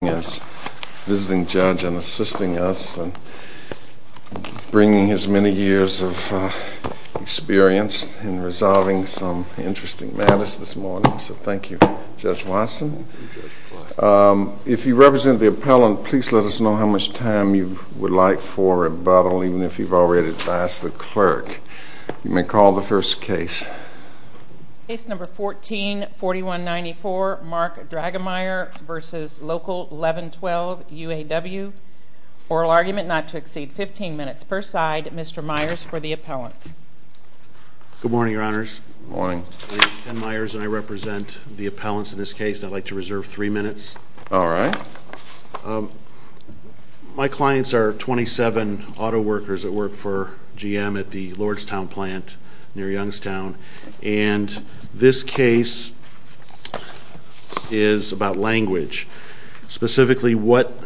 144194 Mark Dragomier v. Local 1112 etal 1112 U.A.W. Oral argument not to exceed 15 minutes per side. Mr. Myers for the appellant. Good morning your honors. Good morning. I'm Ken Myers and I represent the appellants in this case. I'd like to reserve three minutes. All right. My clients are 27 auto workers that work for GM at the Lordstown plant near This case is about language. Specifically what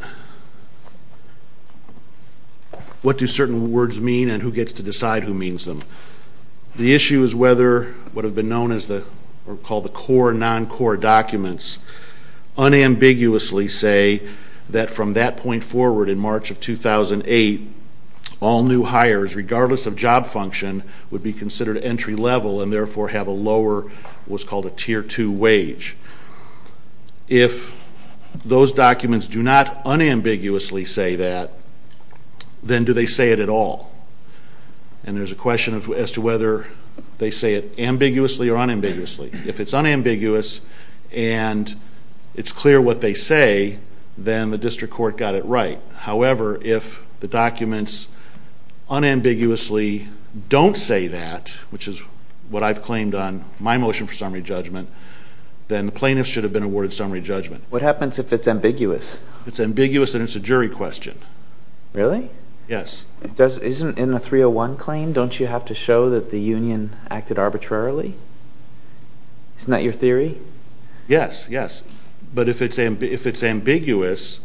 do certain words mean and who gets to decide who means them. The issue is whether what have been known as the core and non-core documents unambiguously say that from that point forward in March of 2008 all new hires regardless of job function would be considered entry level and therefore have a lower what's called a tier 2 wage. If those documents do not unambiguously say that then do they say it at all? And there's a question as to whether they say it ambiguously or unambiguously. If it's unambiguous and it's clear what they say then the district court got it right. However if the documents unambiguously don't say that which is what I've claimed on my motion for summary judgment then the plaintiff should have been awarded summary judgment. What happens if it's ambiguous? It's ambiguous and it's a jury question. Really? Yes. Isn't in the 301 claim don't you have to show that the union acted arbitrarily? Isn't that your theory? Yes, yes. But if it's ambiguous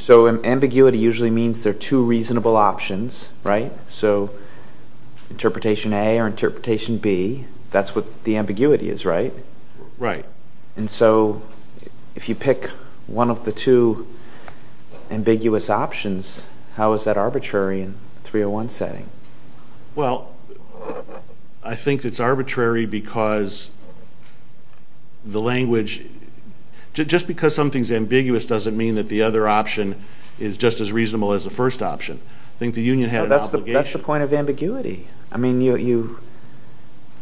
So ambiguity usually means there are two reasonable options, right? So interpretation A or interpretation B that's what the ambiguity is, right? Right. And so if you pick one of the two ambiguous options how is that arbitrary in a 301 setting? Well I think it's arbitrary because the language, just because something is ambiguous doesn't mean that the other option is just as reasonable as the first option. I think the union had an obligation. That's the point of ambiguity. I mean you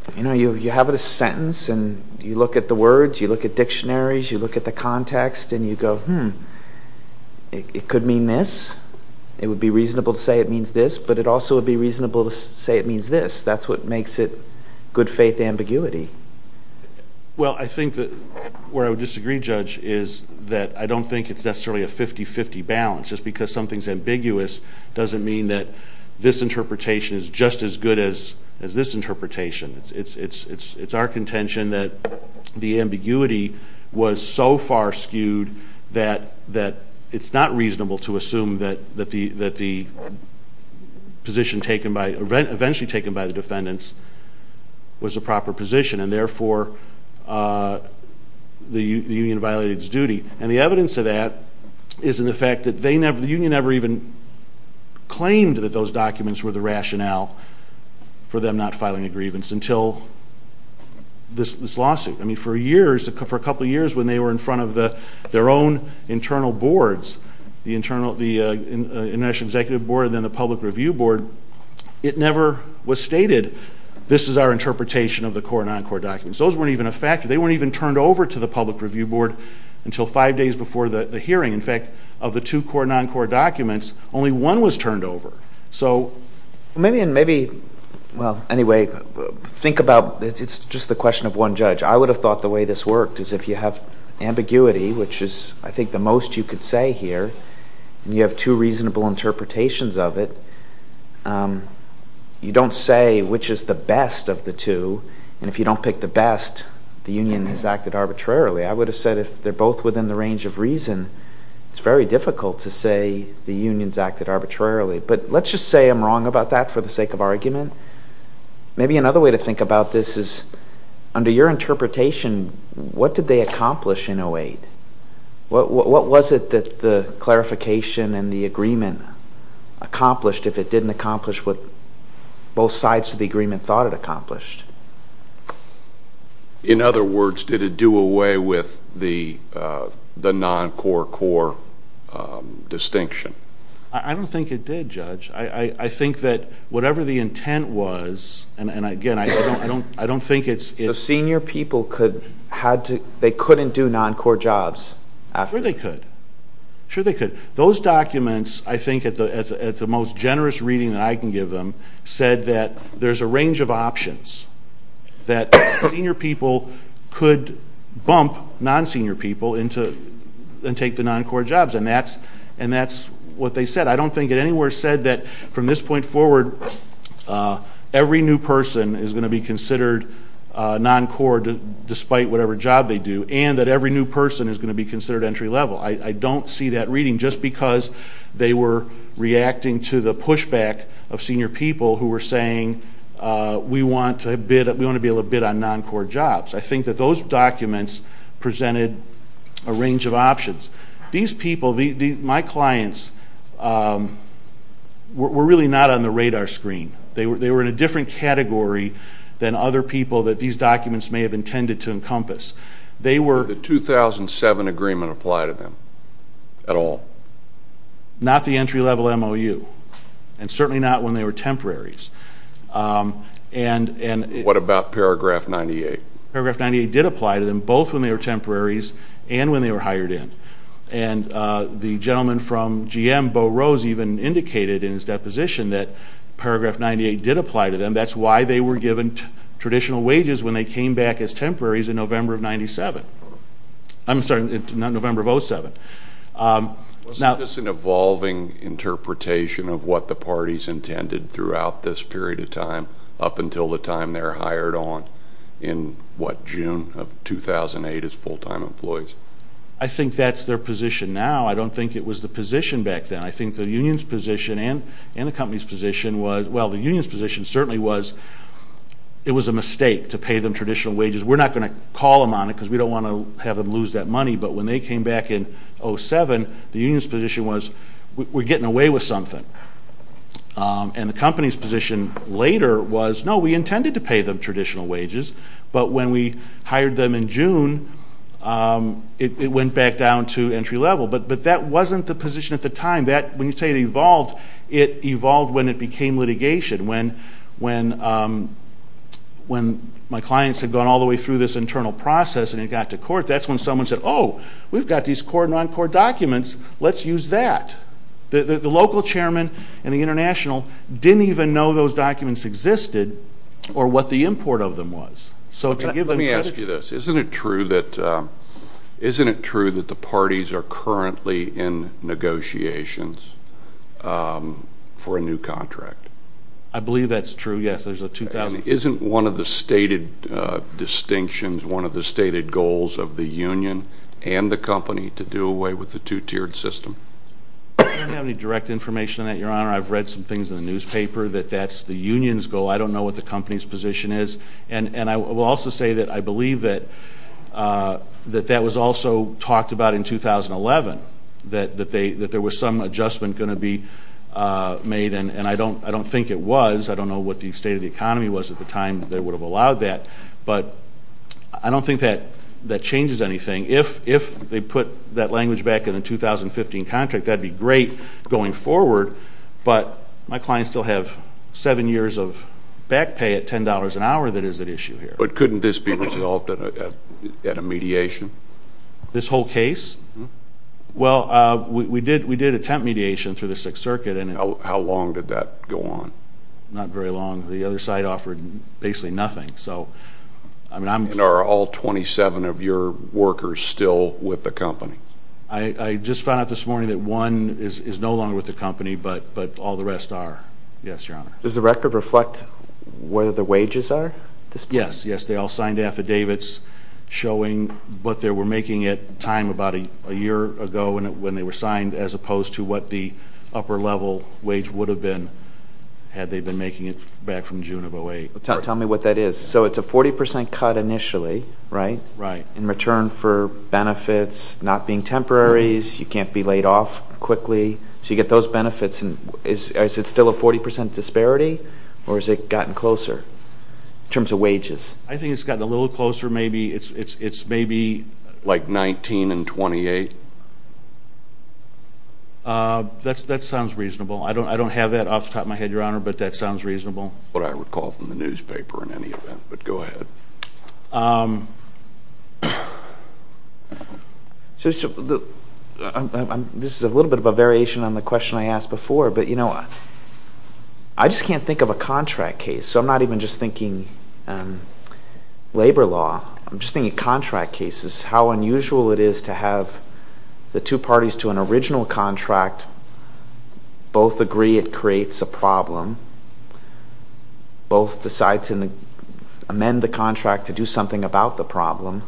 have a sentence and you look at the words, you look at dictionaries, you look at the context and you go hmm it could mean this. It would be reasonable to say it means this but it also would be reasonable to say it means this. That's what makes it good faith ambiguity. Well I think that where I would disagree judge is that I don't think it's necessarily a 50-50 balance. Just because something is ambiguous doesn't mean that this interpretation is just as good as this interpretation. It's our contention that the ambiguity was so far skewed that it's not reasonable to assume that the position taken by, eventually taken by the defendants was a proper position and therefore the union violated its duty. And the evidence of that is in the fact that they never, the union never even claimed that those documents were the rationale for them not filing a grievance until this lawsuit. I mean for years, for a couple of years when they were in front of their own internal boards, the international executive board and then the public review board, it never was stated this is our interpretation of the core and non-core documents. Those weren't even a fact. They weren't even turned over to the public review board until five days before the hearing. In fact, of the two core and non-core documents, only one was turned over. So maybe, well anyway, think about, it's just the question of one judge. I would have thought the way this worked is if you have ambiguity, which is I think the most you could say here, and you have two reasonable interpretations of it, you don't say which is the best of the two, and if you don't pick the best, the union has acted arbitrarily. I would have said if they're both within the range of reason, it's very difficult to say the union's acted arbitrarily. But let's just say I'm wrong about that for the sake of argument. Maybe another way to think about this is under your interpretation, what did they accomplish in 08? What was it that the clarification and the agreement accomplished if it didn't accomplish what both sides of the agreement thought it accomplished? In other words, did it do away with the non-core-core distinction? I don't think it did, Judge. I think that whatever the intent was, and again, I don't think it's... The senior people could, they couldn't do non-core jobs after... I can give them, said that there's a range of options that senior people could bump non-senior people into and take the non-core jobs, and that's what they said. I don't think it anywhere said that from this point forward, every new person is going to be considered non-core despite whatever job they do, and that every new person is going to be considered entry level. I don't see that reading just because they were reacting to the pushback of senior people who were saying, we want to be able to bid on non-core jobs. I think that those documents presented a range of options. These people, my clients, were really not on the radar screen. They were in a different category than other people that these documents may have intended to encompass. Did the 2007 agreement apply to them at all? Not the entry level MOU, and certainly not when they were temporaries. What about paragraph 98? Paragraph 98 did apply to them, both when they were temporaries and when they were hired in. The gentleman from GM, Bo Rose, even indicated in his deposition that paragraph 98 did apply to them. That's why they were given traditional wages when they came back as temporaries in November of 97. I'm sorry, not November of 07. Was this an evolving interpretation of what the parties intended throughout this period of time up until the time they were hired on in, what, June of 2008 as full-time employees? I think that's their position now. I don't think it was the position back then. I think the union's position and the company's position was, well, the union's position certainly was it was a mistake to pay them traditional wages. We're not going to call them on it because we don't want to have them lose that money, but when they came back in 07, the union's position was we're getting away with something. And the company's position later was, no, we intended to pay them traditional wages, but when we hired them in June, it went back down to entry level. But that wasn't the position at the time. When you say it evolved, it evolved when it became litigation. When my clients had gone all the way through this internal process and it got to court, that's when someone said, oh, we've got these core, non-core documents, let's use that. The local chairman and the international didn't even know those documents existed or what the import of them was. Let me ask you this. Isn't it true that the parties are currently in negotiations for a new contract? I believe that's true, yes. Isn't one of the stated distinctions, one of the stated goals of the union and the company to do away with the two-tiered system? I don't have any direct information on that, Your Honor. I've read some things in the newspaper that that's the union's goal. I don't know what the company's position is. And I will also say that I believe that that was also talked about in 2011, that there was some adjustment going to be made, and I don't think it was. I don't know what the state of the economy was at the time that they would have allowed that. But I don't think that that changes anything. If they put that language back in the 2015 contract, that would be great going forward. But my clients still have seven years of back pay at $10 an hour that is at issue here. But couldn't this be resolved at a mediation? This whole case? Well, we did attempt mediation through the Sixth Circuit. How long did that go on? Not very long. The other side offered basically nothing. And are all 27 of your workers still with the company? I just found out this morning that one is no longer with the company, but all the rest are. Yes, Your Honor. Does the record reflect where the wages are? Yes. They all signed affidavits showing what they were making at the time about a year ago when they were signed, as opposed to what the upper-level wage would have been had they been making it back from June of 2008. Tell me what that is. So it's a 40 percent cut initially, right, in return for benefits not being temporaries. You can't be laid off quickly. So you get those benefits. Is it still a 40 percent disparity, or has it gotten closer in terms of wages? I think it's gotten a little closer, maybe. It's maybe like 19 and 28. That sounds reasonable. I don't have that off the top of my head, Your Honor, but that sounds reasonable. This is a little bit of a variation on the question I asked before, but, you know, I just can't think of a contract case, so I'm not even just thinking labor law. I'm just thinking contract cases, how unusual it is to have the two parties to an original contract both agree it creates a problem, both decide to amend the contract to do something about the problem,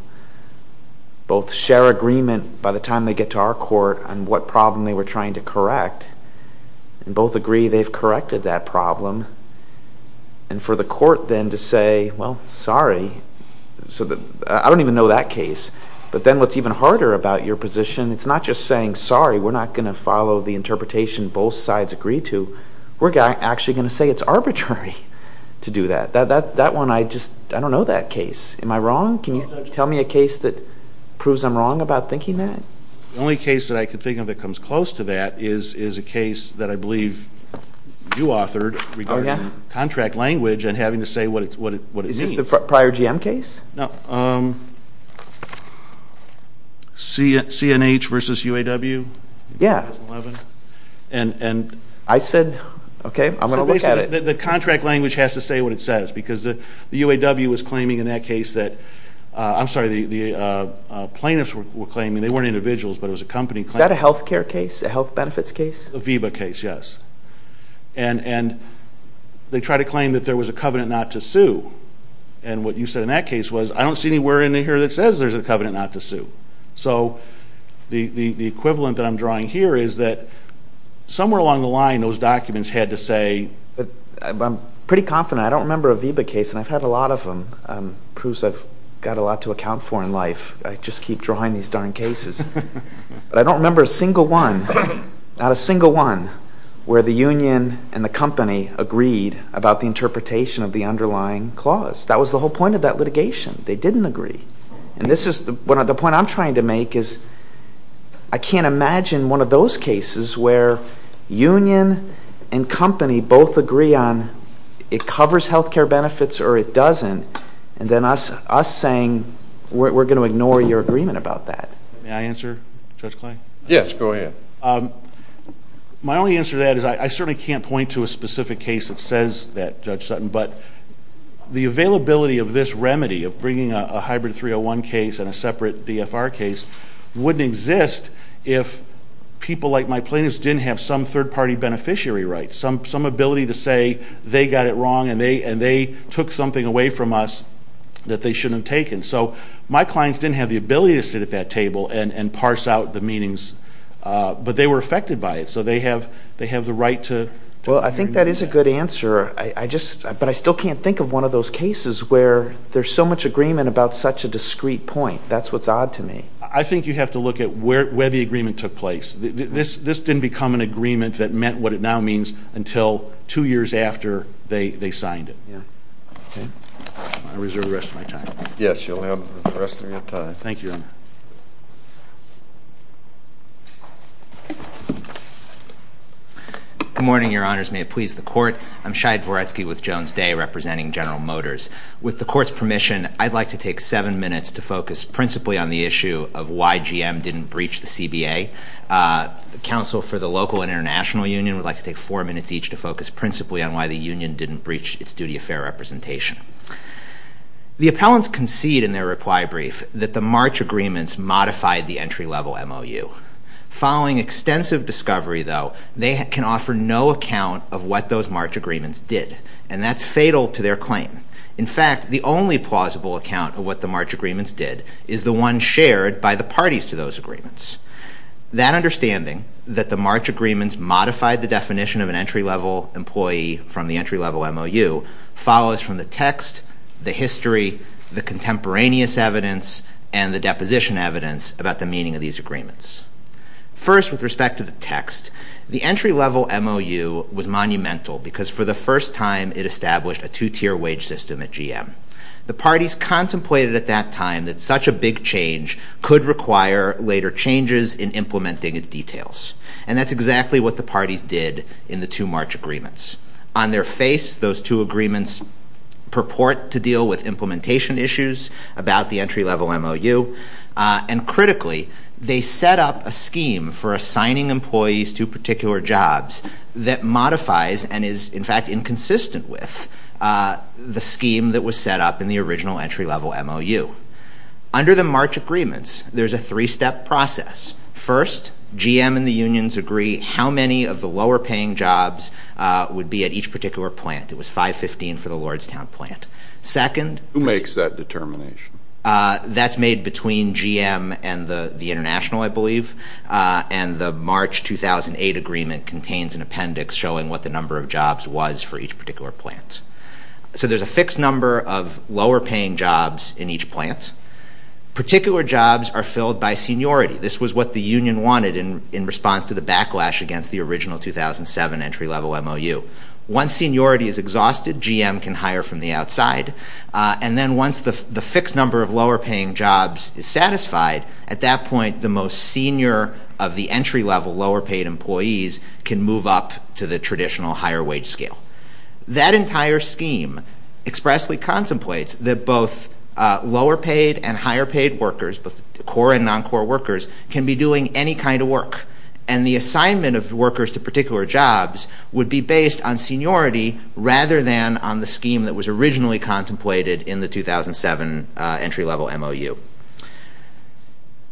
both share agreement by the time they get to our court on what problem they were trying to correct, and both agree they've corrected that problem, and for the court then to say, well, sorry, I don't even know that case, but then what's even harder about your position, it's not just saying, sorry, we're not going to follow the interpretation both sides agree to, we're actually going to say it's arbitrary to do that. That one, I just, I don't know that case. Am I wrong? Can you tell me a case that proves I'm wrong about thinking that? The only case that I can think of that comes close to that is a case that I believe you authored regarding contract language and having to say what it means. Is this the prior GM case? No. CNH versus UAW? Yeah. In 2011? I said, okay, I'm going to look at it. The contract language has to say what it says, because the UAW was claiming in that case that, I'm sorry, the plaintiffs were claiming, they weren't individuals, but it was a company claim. Is that a health care case? A health benefits case? A VEBA case, yes. And they tried to claim that there was a covenant not to sue, and what you said in that case was, I don't see anywhere in here that says there's a covenant not to sue. So the equivalent that I'm drawing here is that somewhere along the line, those documents had to say... I'm pretty confident, I don't remember a VEBA case, and I've had a lot of them. It proves I've got a lot to account for in life. I just keep drawing these darn cases. But I don't remember a single one, not a single one, where the union and the company agreed about the point of that litigation. They didn't agree. And the point I'm trying to make is, I can't imagine one of those cases where union and company both agree on, it covers health care benefits or it doesn't, and then us saying, we're going to ignore your agreement about that. May I answer, Judge Clay? Yes, go ahead. My only answer to that is, I certainly can't point to a specific case that says that, Judge Clay. The availability of this remedy, of bringing a hybrid 301 case and a separate BFR case, wouldn't exist if people like my plaintiffs didn't have some third-party beneficiary rights, some ability to say they got it wrong and they took something away from us that they shouldn't have taken. So my clients didn't have the ability to sit at that table and parse out the meanings. But they were affected by it, so they have the right to... Well, I think that is a good answer. But I still can't think of one of those cases where there's so much agreement about such a discrete point. That's what's odd to me. I think you have to look at where the agreement took place. This didn't become an agreement that meant what it now means until two years after they signed it. I reserve the rest of my time. Yes, you'll have the rest of your time. Thank you, Your Honor. Good morning, Your Honors. May it please the Court. I'm Shai Dvoretsky with Jones Day representing General Motors. With the Court's permission, I'd like to take seven minutes to focus principally on the issue of why GM didn't breach the CBA. The counsel for the local and international union would like to take four minutes each to focus principally on why the union didn't breach its duty of fair representation. The appellants concede in their reply brief that the March agreements modified the entry-level MOU. Following extensive discovery, though, they can offer no account of what those March agreements did, and that's fatal to their claim. In fact, the only plausible account of what the March agreements did is the one shared by the parties to those agreements. That understanding, that the March agreements modified the definition of an entry-level employee from the entry-level MOU, follows from the text, the history, the contemporaneous evidence, and the deposition evidence about the meaning of these agreements. First, with respect to the text, the entry-level MOU was monumental because for the first time it established a two-tier wage system at GM. The parties contemplated at that time that such a big change could require later changes in implementing its details, and that's exactly what the parties did in the two March agreements. On their face, those two agreements purport to deal with implementation issues about the entry-level MOU, and critically, they set up a scheme for assigning employees to particular jobs that modifies and is, in fact, inconsistent with the scheme that was set up in the original entry-level MOU. Under the March agreements, there's a three-step process. First, GM and the unions agree how many of the lower-paying jobs would be at each particular plant. It was 515 for the Lordstown plant. Second... Who makes that determination? That's made between GM and the International, I believe, and the March 2008 agreement contains an appendix showing what the number of jobs was for each particular plant. So there's a fixed number of lower-paying jobs in each plant. Particular jobs are filled by seniority. This was what the union wanted in response to the backlash against the original 2007 entry-level MOU. Once seniority is exhausted, GM can hire from the outside, and then once the fixed number of lower-paying jobs is satisfied, at that point, the most senior of the entry-level lower-paid employees can move up to the traditional higher wage scale. That entire scheme expressly contemplates that both lower-paid and higher-paid workers, both core and non-core workers, can be doing any kind of work. And the assignment of workers to particular jobs would be based on seniority rather than on the scheme that was originally contemplated in the 2007 entry-level MOU.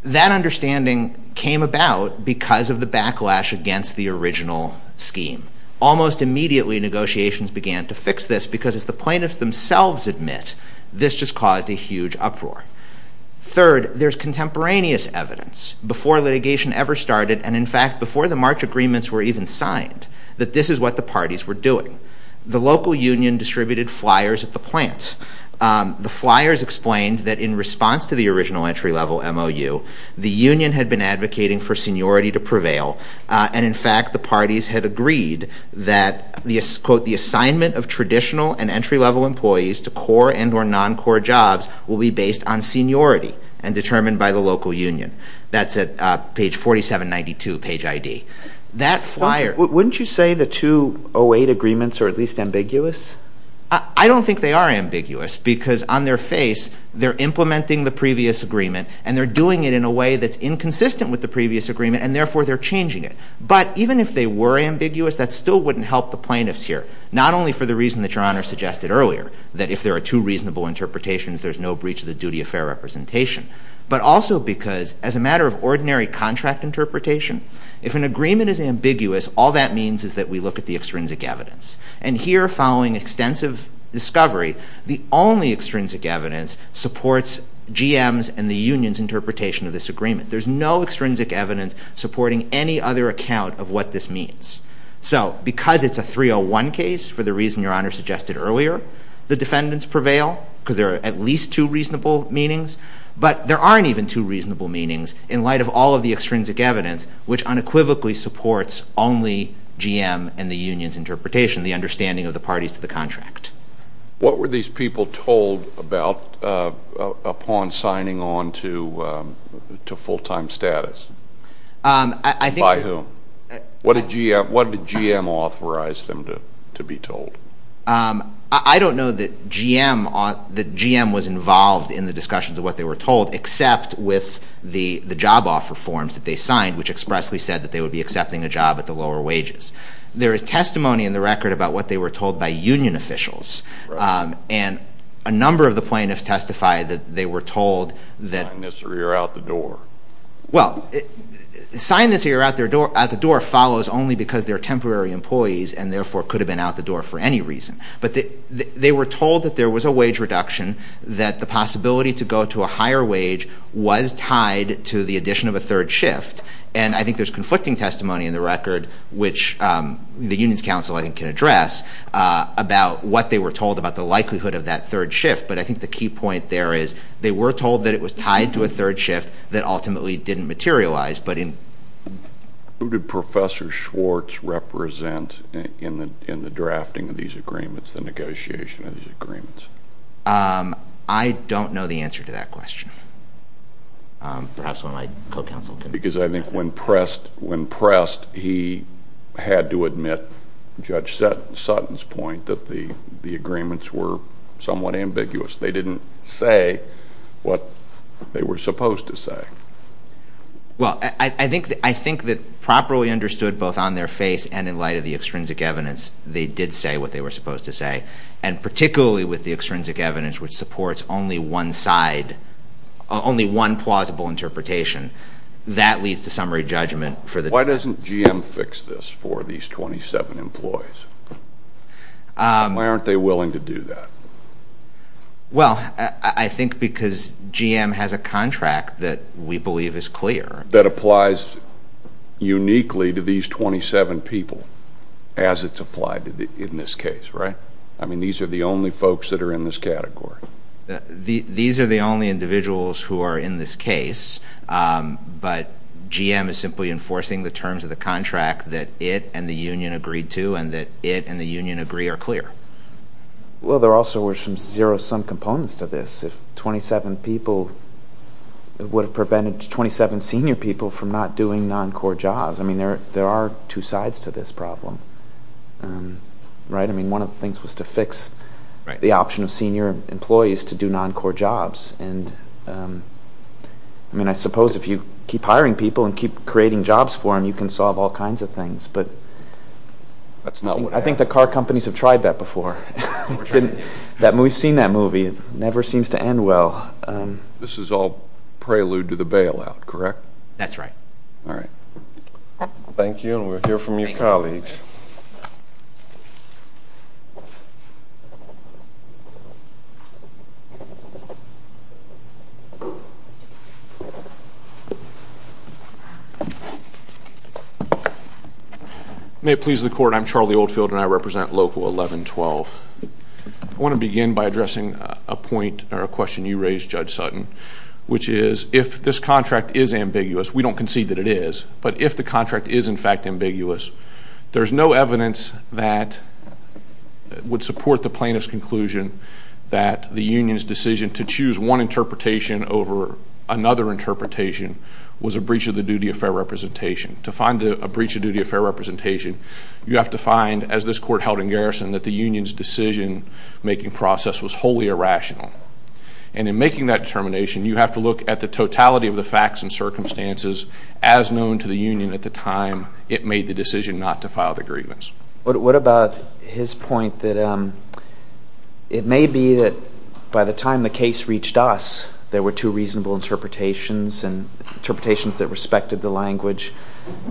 That understanding came about because of the backlash against the original scheme. Almost immediately negotiations began to fix this because, as the plaintiffs themselves admit, this just caused a huge uproar. Third, there's contemporaneous evidence, before litigation ever started, and in fact before the March agreements were even signed, that this is what the parties were doing. The local union distributed flyers at the plant. The flyers explained that in response to the original entry-level MOU, the union had been advocating for seniority to prevail, and in fact the parties had agreed that, quote, the assignment of traditional and entry-level employees to core and or non-core jobs will be based on seniority and determined by the local union. That's at page 4792, page ID. That flyer... Wouldn't you say the 2008 agreements are at least ambiguous? I don't think they are ambiguous because, on their face, they're implementing the previous agreement and they're doing it in a way that's inconsistent with the previous agreement, and therefore they're changing it. But even if they were ambiguous, that still wouldn't help the plaintiffs here, not only for the reason that Your Honor suggested earlier, that if there are two reasonable interpretations, there's no breach of the duty of fair representation, but also because, as a matter of ordinary contract interpretation, if an agreement is ambiguous, all that means is that we look at the extrinsic evidence. And here, following extensive discovery, the only extrinsic evidence supports GM's and the union's interpretation of this agreement. There's no extrinsic evidence supporting any other account of what this defendants prevail, because there are at least two reasonable meanings, but there aren't even two reasonable meanings in light of all of the extrinsic evidence, which unequivocally supports only GM and the union's interpretation, the understanding of the parties to the contract. What were these people told upon signing on to full-time status? By whom? What did GM authorize them to be told? I don't know that GM was involved in the discussions of what they were told, except with the job offer forms that they signed, which expressly said that they would be accepting a job at the lower wages. There is testimony in the record about what they were told by union officials, and a number of the plaintiffs testified that they were told that... Sign this or you're out the door. Well, sign this or you're out the door follows only because they're temporary employees and therefore could have been out the door for any reason. But they were told that there was a wage reduction, that the possibility to go to a higher wage was tied to the addition of a third shift, and I think there's conflicting testimony in the record, which the union's counsel I think can address, about what they were told about the likelihood of that third shift. But I think the key point there is they were told that it was tied to a third shift that ultimately didn't materialize, but in... Who did Professor Schwartz represent in the drafting of these agreements, the negotiation of these agreements? I don't know the answer to that question. Perhaps one of my co-counsel can... Because I think when pressed, he had to admit, Judge Sutton's point, that the agreements were somewhat ambiguous. They didn't say what they were supposed to say. Well, I don't know I think that properly understood both on their face and in light of the extrinsic evidence, they did say what they were supposed to say. And particularly with the extrinsic evidence which supports only one side, only one plausible interpretation, that leads to summary judgment for the... Why doesn't GM fix this for these 27 employees? Why aren't they willing to do that? Well, I think because GM has a contract that we believe is clear. That applies to uniquely to these 27 people as it's applied in this case, right? I mean, these are the only folks that are in this category. These are the only individuals who are in this case, but GM is simply enforcing the terms of the contract that it and the union agreed to and that it and the union agree are clear. Well, there also were some zero-sum components to this. If 27 people, it would have prevented 27 senior people from not doing non-core jobs. I mean, there are two sides to this problem, right? I mean, one of the things was to fix the option of senior employees to do non-core jobs. I mean, I suppose if you keep hiring people and keep creating jobs for them, you can solve all kinds of things, but I think the car companies have tried that before. We've seen that movie. It never seems to end well. This is all prelude to the bailout, correct? That's right. All right. Thank you, and we'll hear from your colleagues. May it please the Court, I'm Charlie Oldfield, and I represent Local 1112. I want to begin by addressing a point or a question you raised, Judge Sutton, which is if this contract is ambiguous, we don't concede that it is, but if the contract is in fact ambiguous, there's no evidence that would support the plaintiff's conclusion that the union's decision to choose one interpretation over another interpretation was a breach of the duty of fair representation. To find a breach of duty of fair representation, you heard held in garrison that the union's decision-making process was wholly irrational, and in making that determination, you have to look at the totality of the facts and circumstances as known to the union at the time it made the decision not to file the grievance. What about his point that it may be that by the time the case reached us, there were two reasonable interpretations and interpretations that respected the language,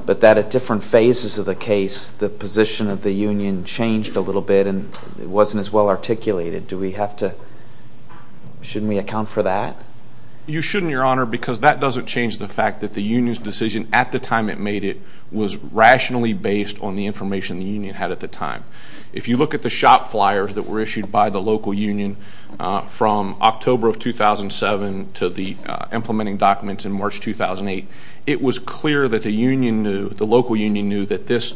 but that at different phases of the case, the position of the union changed a little bit and it wasn't as well articulated. Shouldn't we account for that? You shouldn't, Your Honor, because that doesn't change the fact that the union's decision at the time it made it was rationally based on the information the union had at the time. If you look at the shop flyers that were issued by the local union from October of 2007 to the implementing documents in March 2008, it was clear that the local union knew that this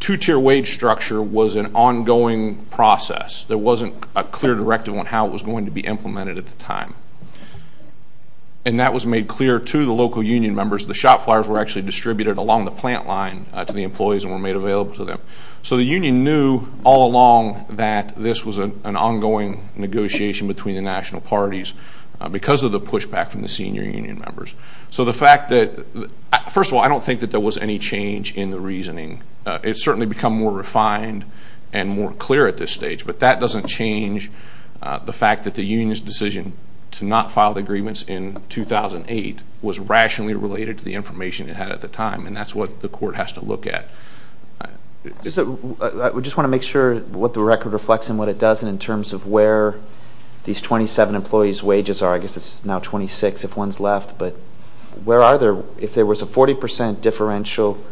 two-tier wage structure was an ongoing process. There wasn't a clear directive on how it was going to be implemented at the time. And that was made clear to the local union members. The shop flyers were actually distributed along the plant line to the employees and were made available to them. So the union knew all along that this was an ongoing negotiation between the national parties because of the pushback from the senior union members. So the fact that... First of all, I don't think that there was any change in the reasoning. It's certainly become more refined and more clear at this stage, but that doesn't change the fact that the union's decision to not file the agreements in 2008 was rationally related to the information it had at the time, and that's what the court has to look at. I just want to make sure what the record reflects and what it doesn't in terms of where these 27 employees' wages are. I guess it's now 26 if one's left, but where are they? If there was a 40 percent differential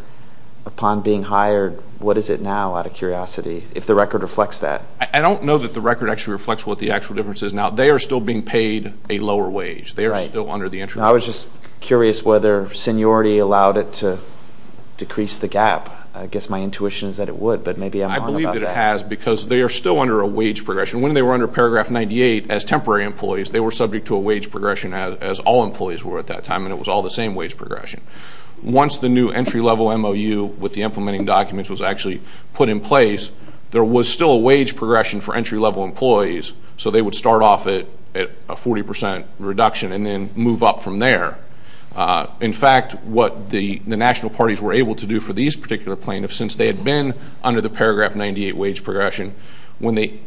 upon being hired, what is it now, out of curiosity, if the record reflects that? I don't know that the record actually reflects what the actual difference is now. They are still being paid a lower wage. They are still under the interest rate. I was just curious whether seniority allowed it to decrease the gap. I guess my intuition is that it would, but maybe I'm wrong about that. I believe that it has because they are still under a wage progression. When they were under Paragraph 98 as temporary employees, they were subject to a wage progression as all employees were at that time, and it was all the same wage progression. Once the new entry-level MOU with the implementing documents was actually put in place, there was still a wage progression for entry-level employees, so they would start off at a 40 percent reduction and then move up from there. In fact, what the national parties were able to do for these particular plaintiffs, since they had been under the Paragraph 98 wage progression, when they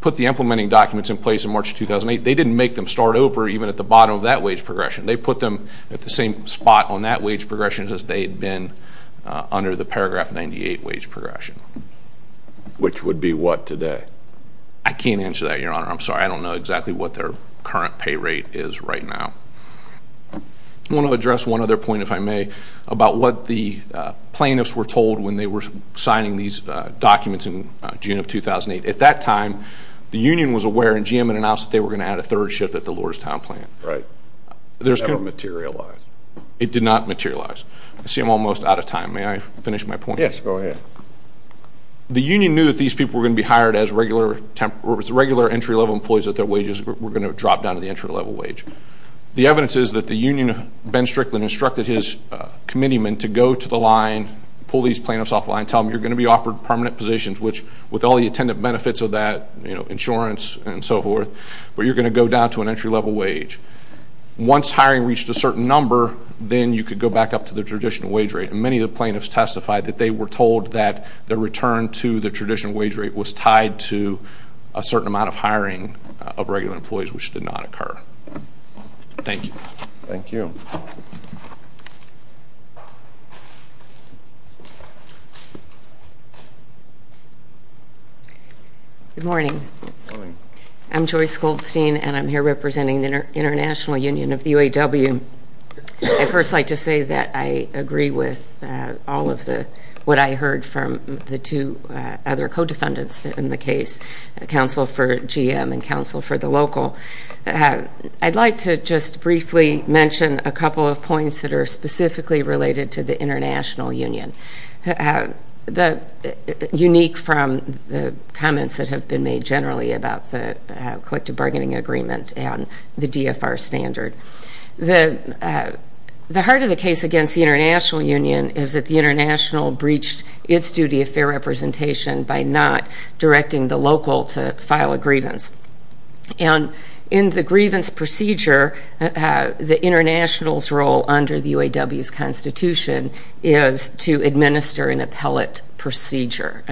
put the implementing documents in place in March of 2008, they didn't make them start over even at the bottom of that wage progression. They put them at the same spot on that wage progression as they had been under the Paragraph 98 wage progression. Which would be what today? I can't answer that, Your Honor. I'm sorry. I don't know exactly what their current pay rate is right now. I want to address one other point, if I may, about what the plaintiffs were told when they were signing these documents in June of 2008. At that time, the union was aware and GM had announced that they were going to add a third shift at the Lordstown plant. Right. That didn't materialize. It did not materialize. I see I'm almost out of time. May I finish my point? Yes, go ahead. The union knew that these people were going to be hired as regular entry-level employees at their wages, were going to drop down to the entry-level wage. The evidence is that the union, Ben Strickland, instructed his committeemen to go to the line, pull these plaintiffs offline, tell them you're going to be offered permanent positions, which, with all the attendant benefits of that, insurance and so forth, but you're going to go down to an entry-level wage. Once hiring reached a certain number, then you could go back up to the traditional wage rate. Many of the plaintiffs testified that they were told that the return to the traditional wage rate was tied to a certain amount of hiring of regular employees, which did not occur. Thank you. Thank you. Good morning. I'm Joyce Goldstein, and I'm here representing the International Union of the UAW. I'd first like to say that I agree with all of the, what I heard from the two other co-defendants in the case, counsel for GM and counsel for the local. I'd like to just briefly mention a couple of points that are specifically related to the International Union. Unique from the comments that have been made generally about the collective bargaining agreement and the DFR standard. The heart of the case against the International Union is that the International breached its duty of fair representation by not directing the local to file a grievance. And in the grievance procedure, the International's role under the UAW's constitution is to administer an appellate procedure,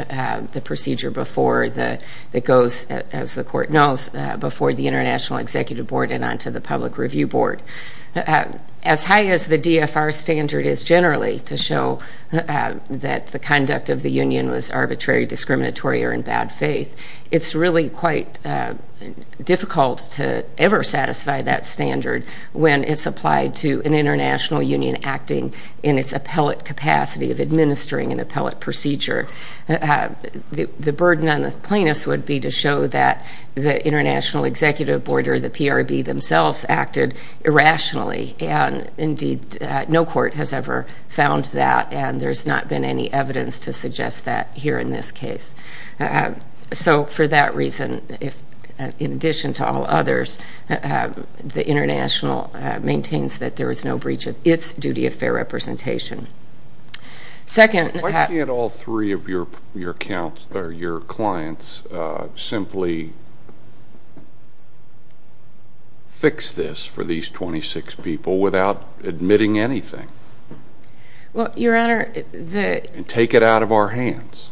the procedure before the, that goes, as the court knows, before the International Executive Board and onto the Public Review Board. As high as the DFR standard is generally to show that the conduct of the Union was arbitrary, discriminatory, or in bad faith, it's really quite difficult to ever satisfy that standard when it's applied to an International Union acting in its appellate capacity of administering an appellate procedure. The burden on the plaintiffs would be to show that the International Executive Board or the PRB themselves acted irrationally and indeed no court has ever found that and there's not been any evidence to suggest that here in this case. So for that reason, if, in addition to all others, the International maintains that there is no breach of its duty of fair representation. Why can't all three of your clients simply fix this for these 26 people without admitting anything and take it out of our hands?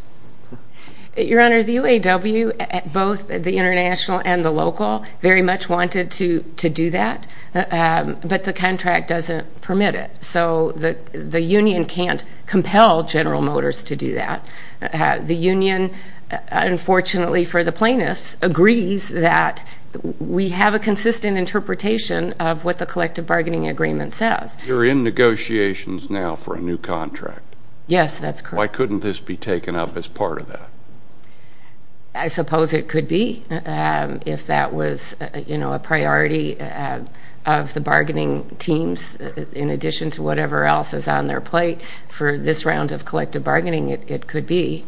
Your Honor, the UAW, both the International and the local, very much wanted to do that, but the contract doesn't permit it. So the Union can't compel General Motors to do that. The Union, unfortunately for the plaintiffs, agrees that we have a consistent interpretation of what the collective bargaining agreement says. You're in negotiations now for a new contract. Yes, that's correct. Why couldn't this be taken up as part of that? I suppose it could be if that was, you know, a priority of the bargaining teams in addition to whatever else is on their plate. For this round of collective bargaining, it could be.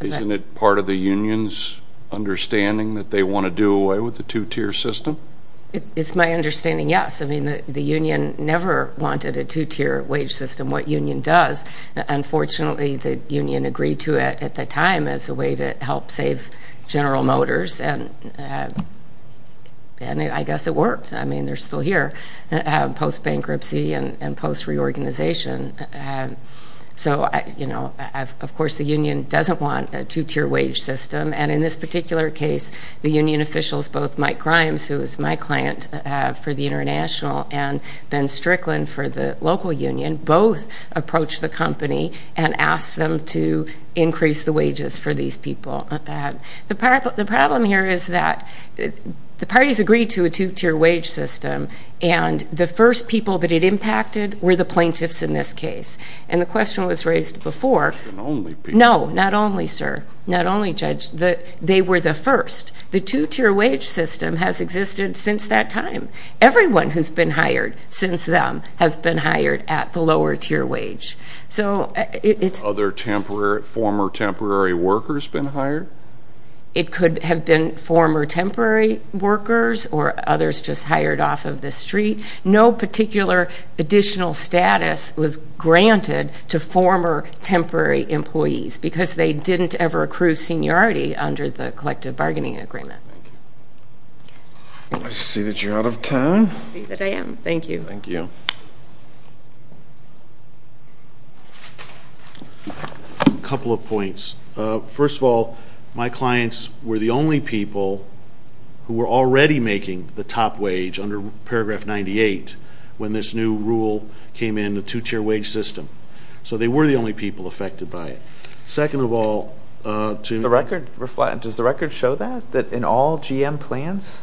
Isn't it part of the Union's understanding that they want to do away with the two-tier system? It's my understanding, yes. I mean, the Union never wanted a two-tier wage system. What Union does, unfortunately, the Union agreed to it at the time as a way to help save General Motors, and I guess it worked. I mean, they're still here post-bankruptcy and post-reorganization. So, you know, of course the Union doesn't want a two-tier wage system, and in this particular case, the Union officials, both Mike Grimes, who is my client for the International, and Ben Strickland for the local Union, both approached the company and asked them to increase the wages for these people. The problem here is that the parties agreed to a two-tier wage system, and the first people that it impacted were the plaintiffs in this case, and the question was raised before. No, not only, sir. Not only, Judge. They were the first. The two-tier wage system has existed since that time. Everyone who's been hired since then has been hired at the lower-tier wage. So, it's... Other temporary, former temporary workers been hired? It could have been former temporary workers or others just hired off of the street. No particular additional status was granted to former temporary employees because they didn't ever accrue seniority under the Union. I see that you're out of time. I see that I am. Thank you. Thank you. A couple of points. First of all, my clients were the only people who were already making the top wage under paragraph 98 when this new rule came in, the two-tier wage system. So, they were the only people affected by it. Second of all, to... Does the record reflect, does the record show that, that in all GM plants,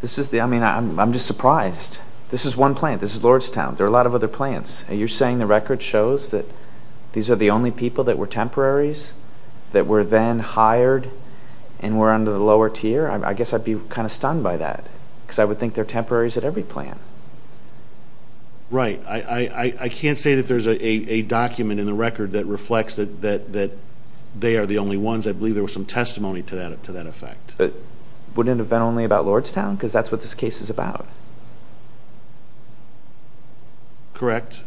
this is the... I mean, I'm just surprised. This is one plant. This is Lordstown. There are a lot of other plants. Are you saying the record shows that these are the only people that were temporaries that were then hired and were under the lower-tier? I guess I'd be kind of stunned by that because I would think they're temporaries at every plant. Right. I can't say that there's a document in the record that reflects that they are the only ones. I believe there was some testimony to that effect. Wouldn't it have been only about Lordstown? Because that's what this case is about. Correct.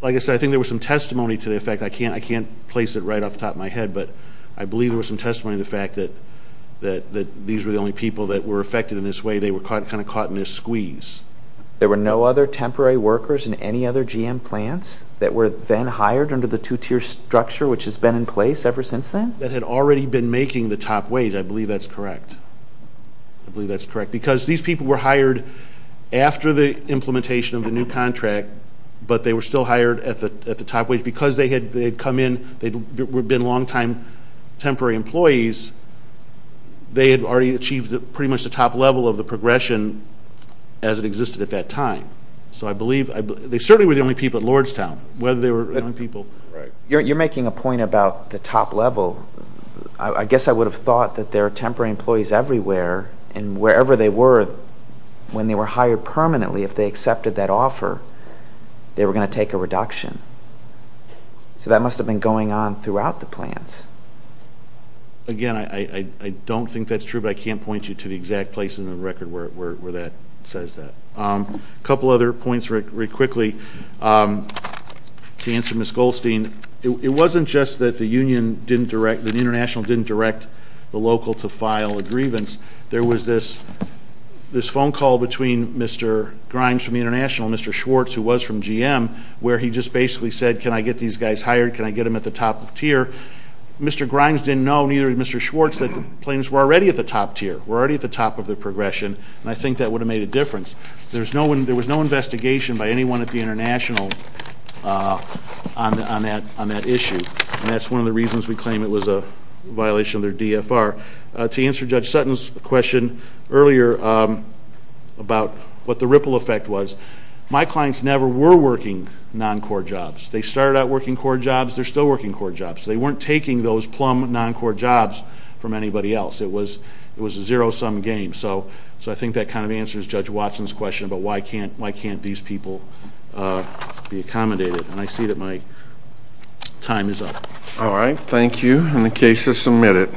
Like I said, I think there was some testimony to the effect. I can't place it right off the top of my head, but I believe there was some testimony to the fact that these were the only people that were affected in this way. They were kind of caught in this squeeze. There were no other temporary workers in any other GM plants that were then hired under the two-tier structure which has been in place ever since then? That had already been making the top wage. I believe that's correct. I believe that's correct because these people were hired after the implementation of the new contract, but they were still hired at the top wage because they had come in. They had been long-time temporary employees. They had already achieved pretty much the top level of the progression as it existed at that time. So I believe they certainly were the only people at Lordstown. You're making a point about the top level. I guess I would have thought that there are temporary employees everywhere and wherever they were when they were hired permanently, if they accepted that offer, they were going to take a reduction. So that must have been going on throughout the plants. Again, I don't think that's true, but I can't point you to the exact place in the record where that says that. A couple other points very quickly to answer Ms. Goldstein. It wasn't just that the Union didn't direct, that the International didn't direct the local to file a grievance. There was this phone call between Mr. Grimes from the International and Mr. Schwartz, who was from GM, where he just basically said, can I get these guys hired? Can I get them at the top tier? Mr. Grimes didn't know, neither did Mr. Schwartz, that the plants were already at the top tier, were already at the top of the progression, and I think that would have made a difference. There was no investigation by anyone at the International on that issue, and that's one of the reasons we claim it was a violation of their DFR. To answer Judge Sutton's question earlier about what the ripple effect was, my clients never were working non-core jobs. They started out working core jobs, they're still working core jobs. They weren't taking those plum non-core jobs from anybody else. It was a zero-sum game. So I think that kind of answers Judge Watson's question about why can't these people be accommodated, and I see that my time is up. All right, thank you, and the case is submitted.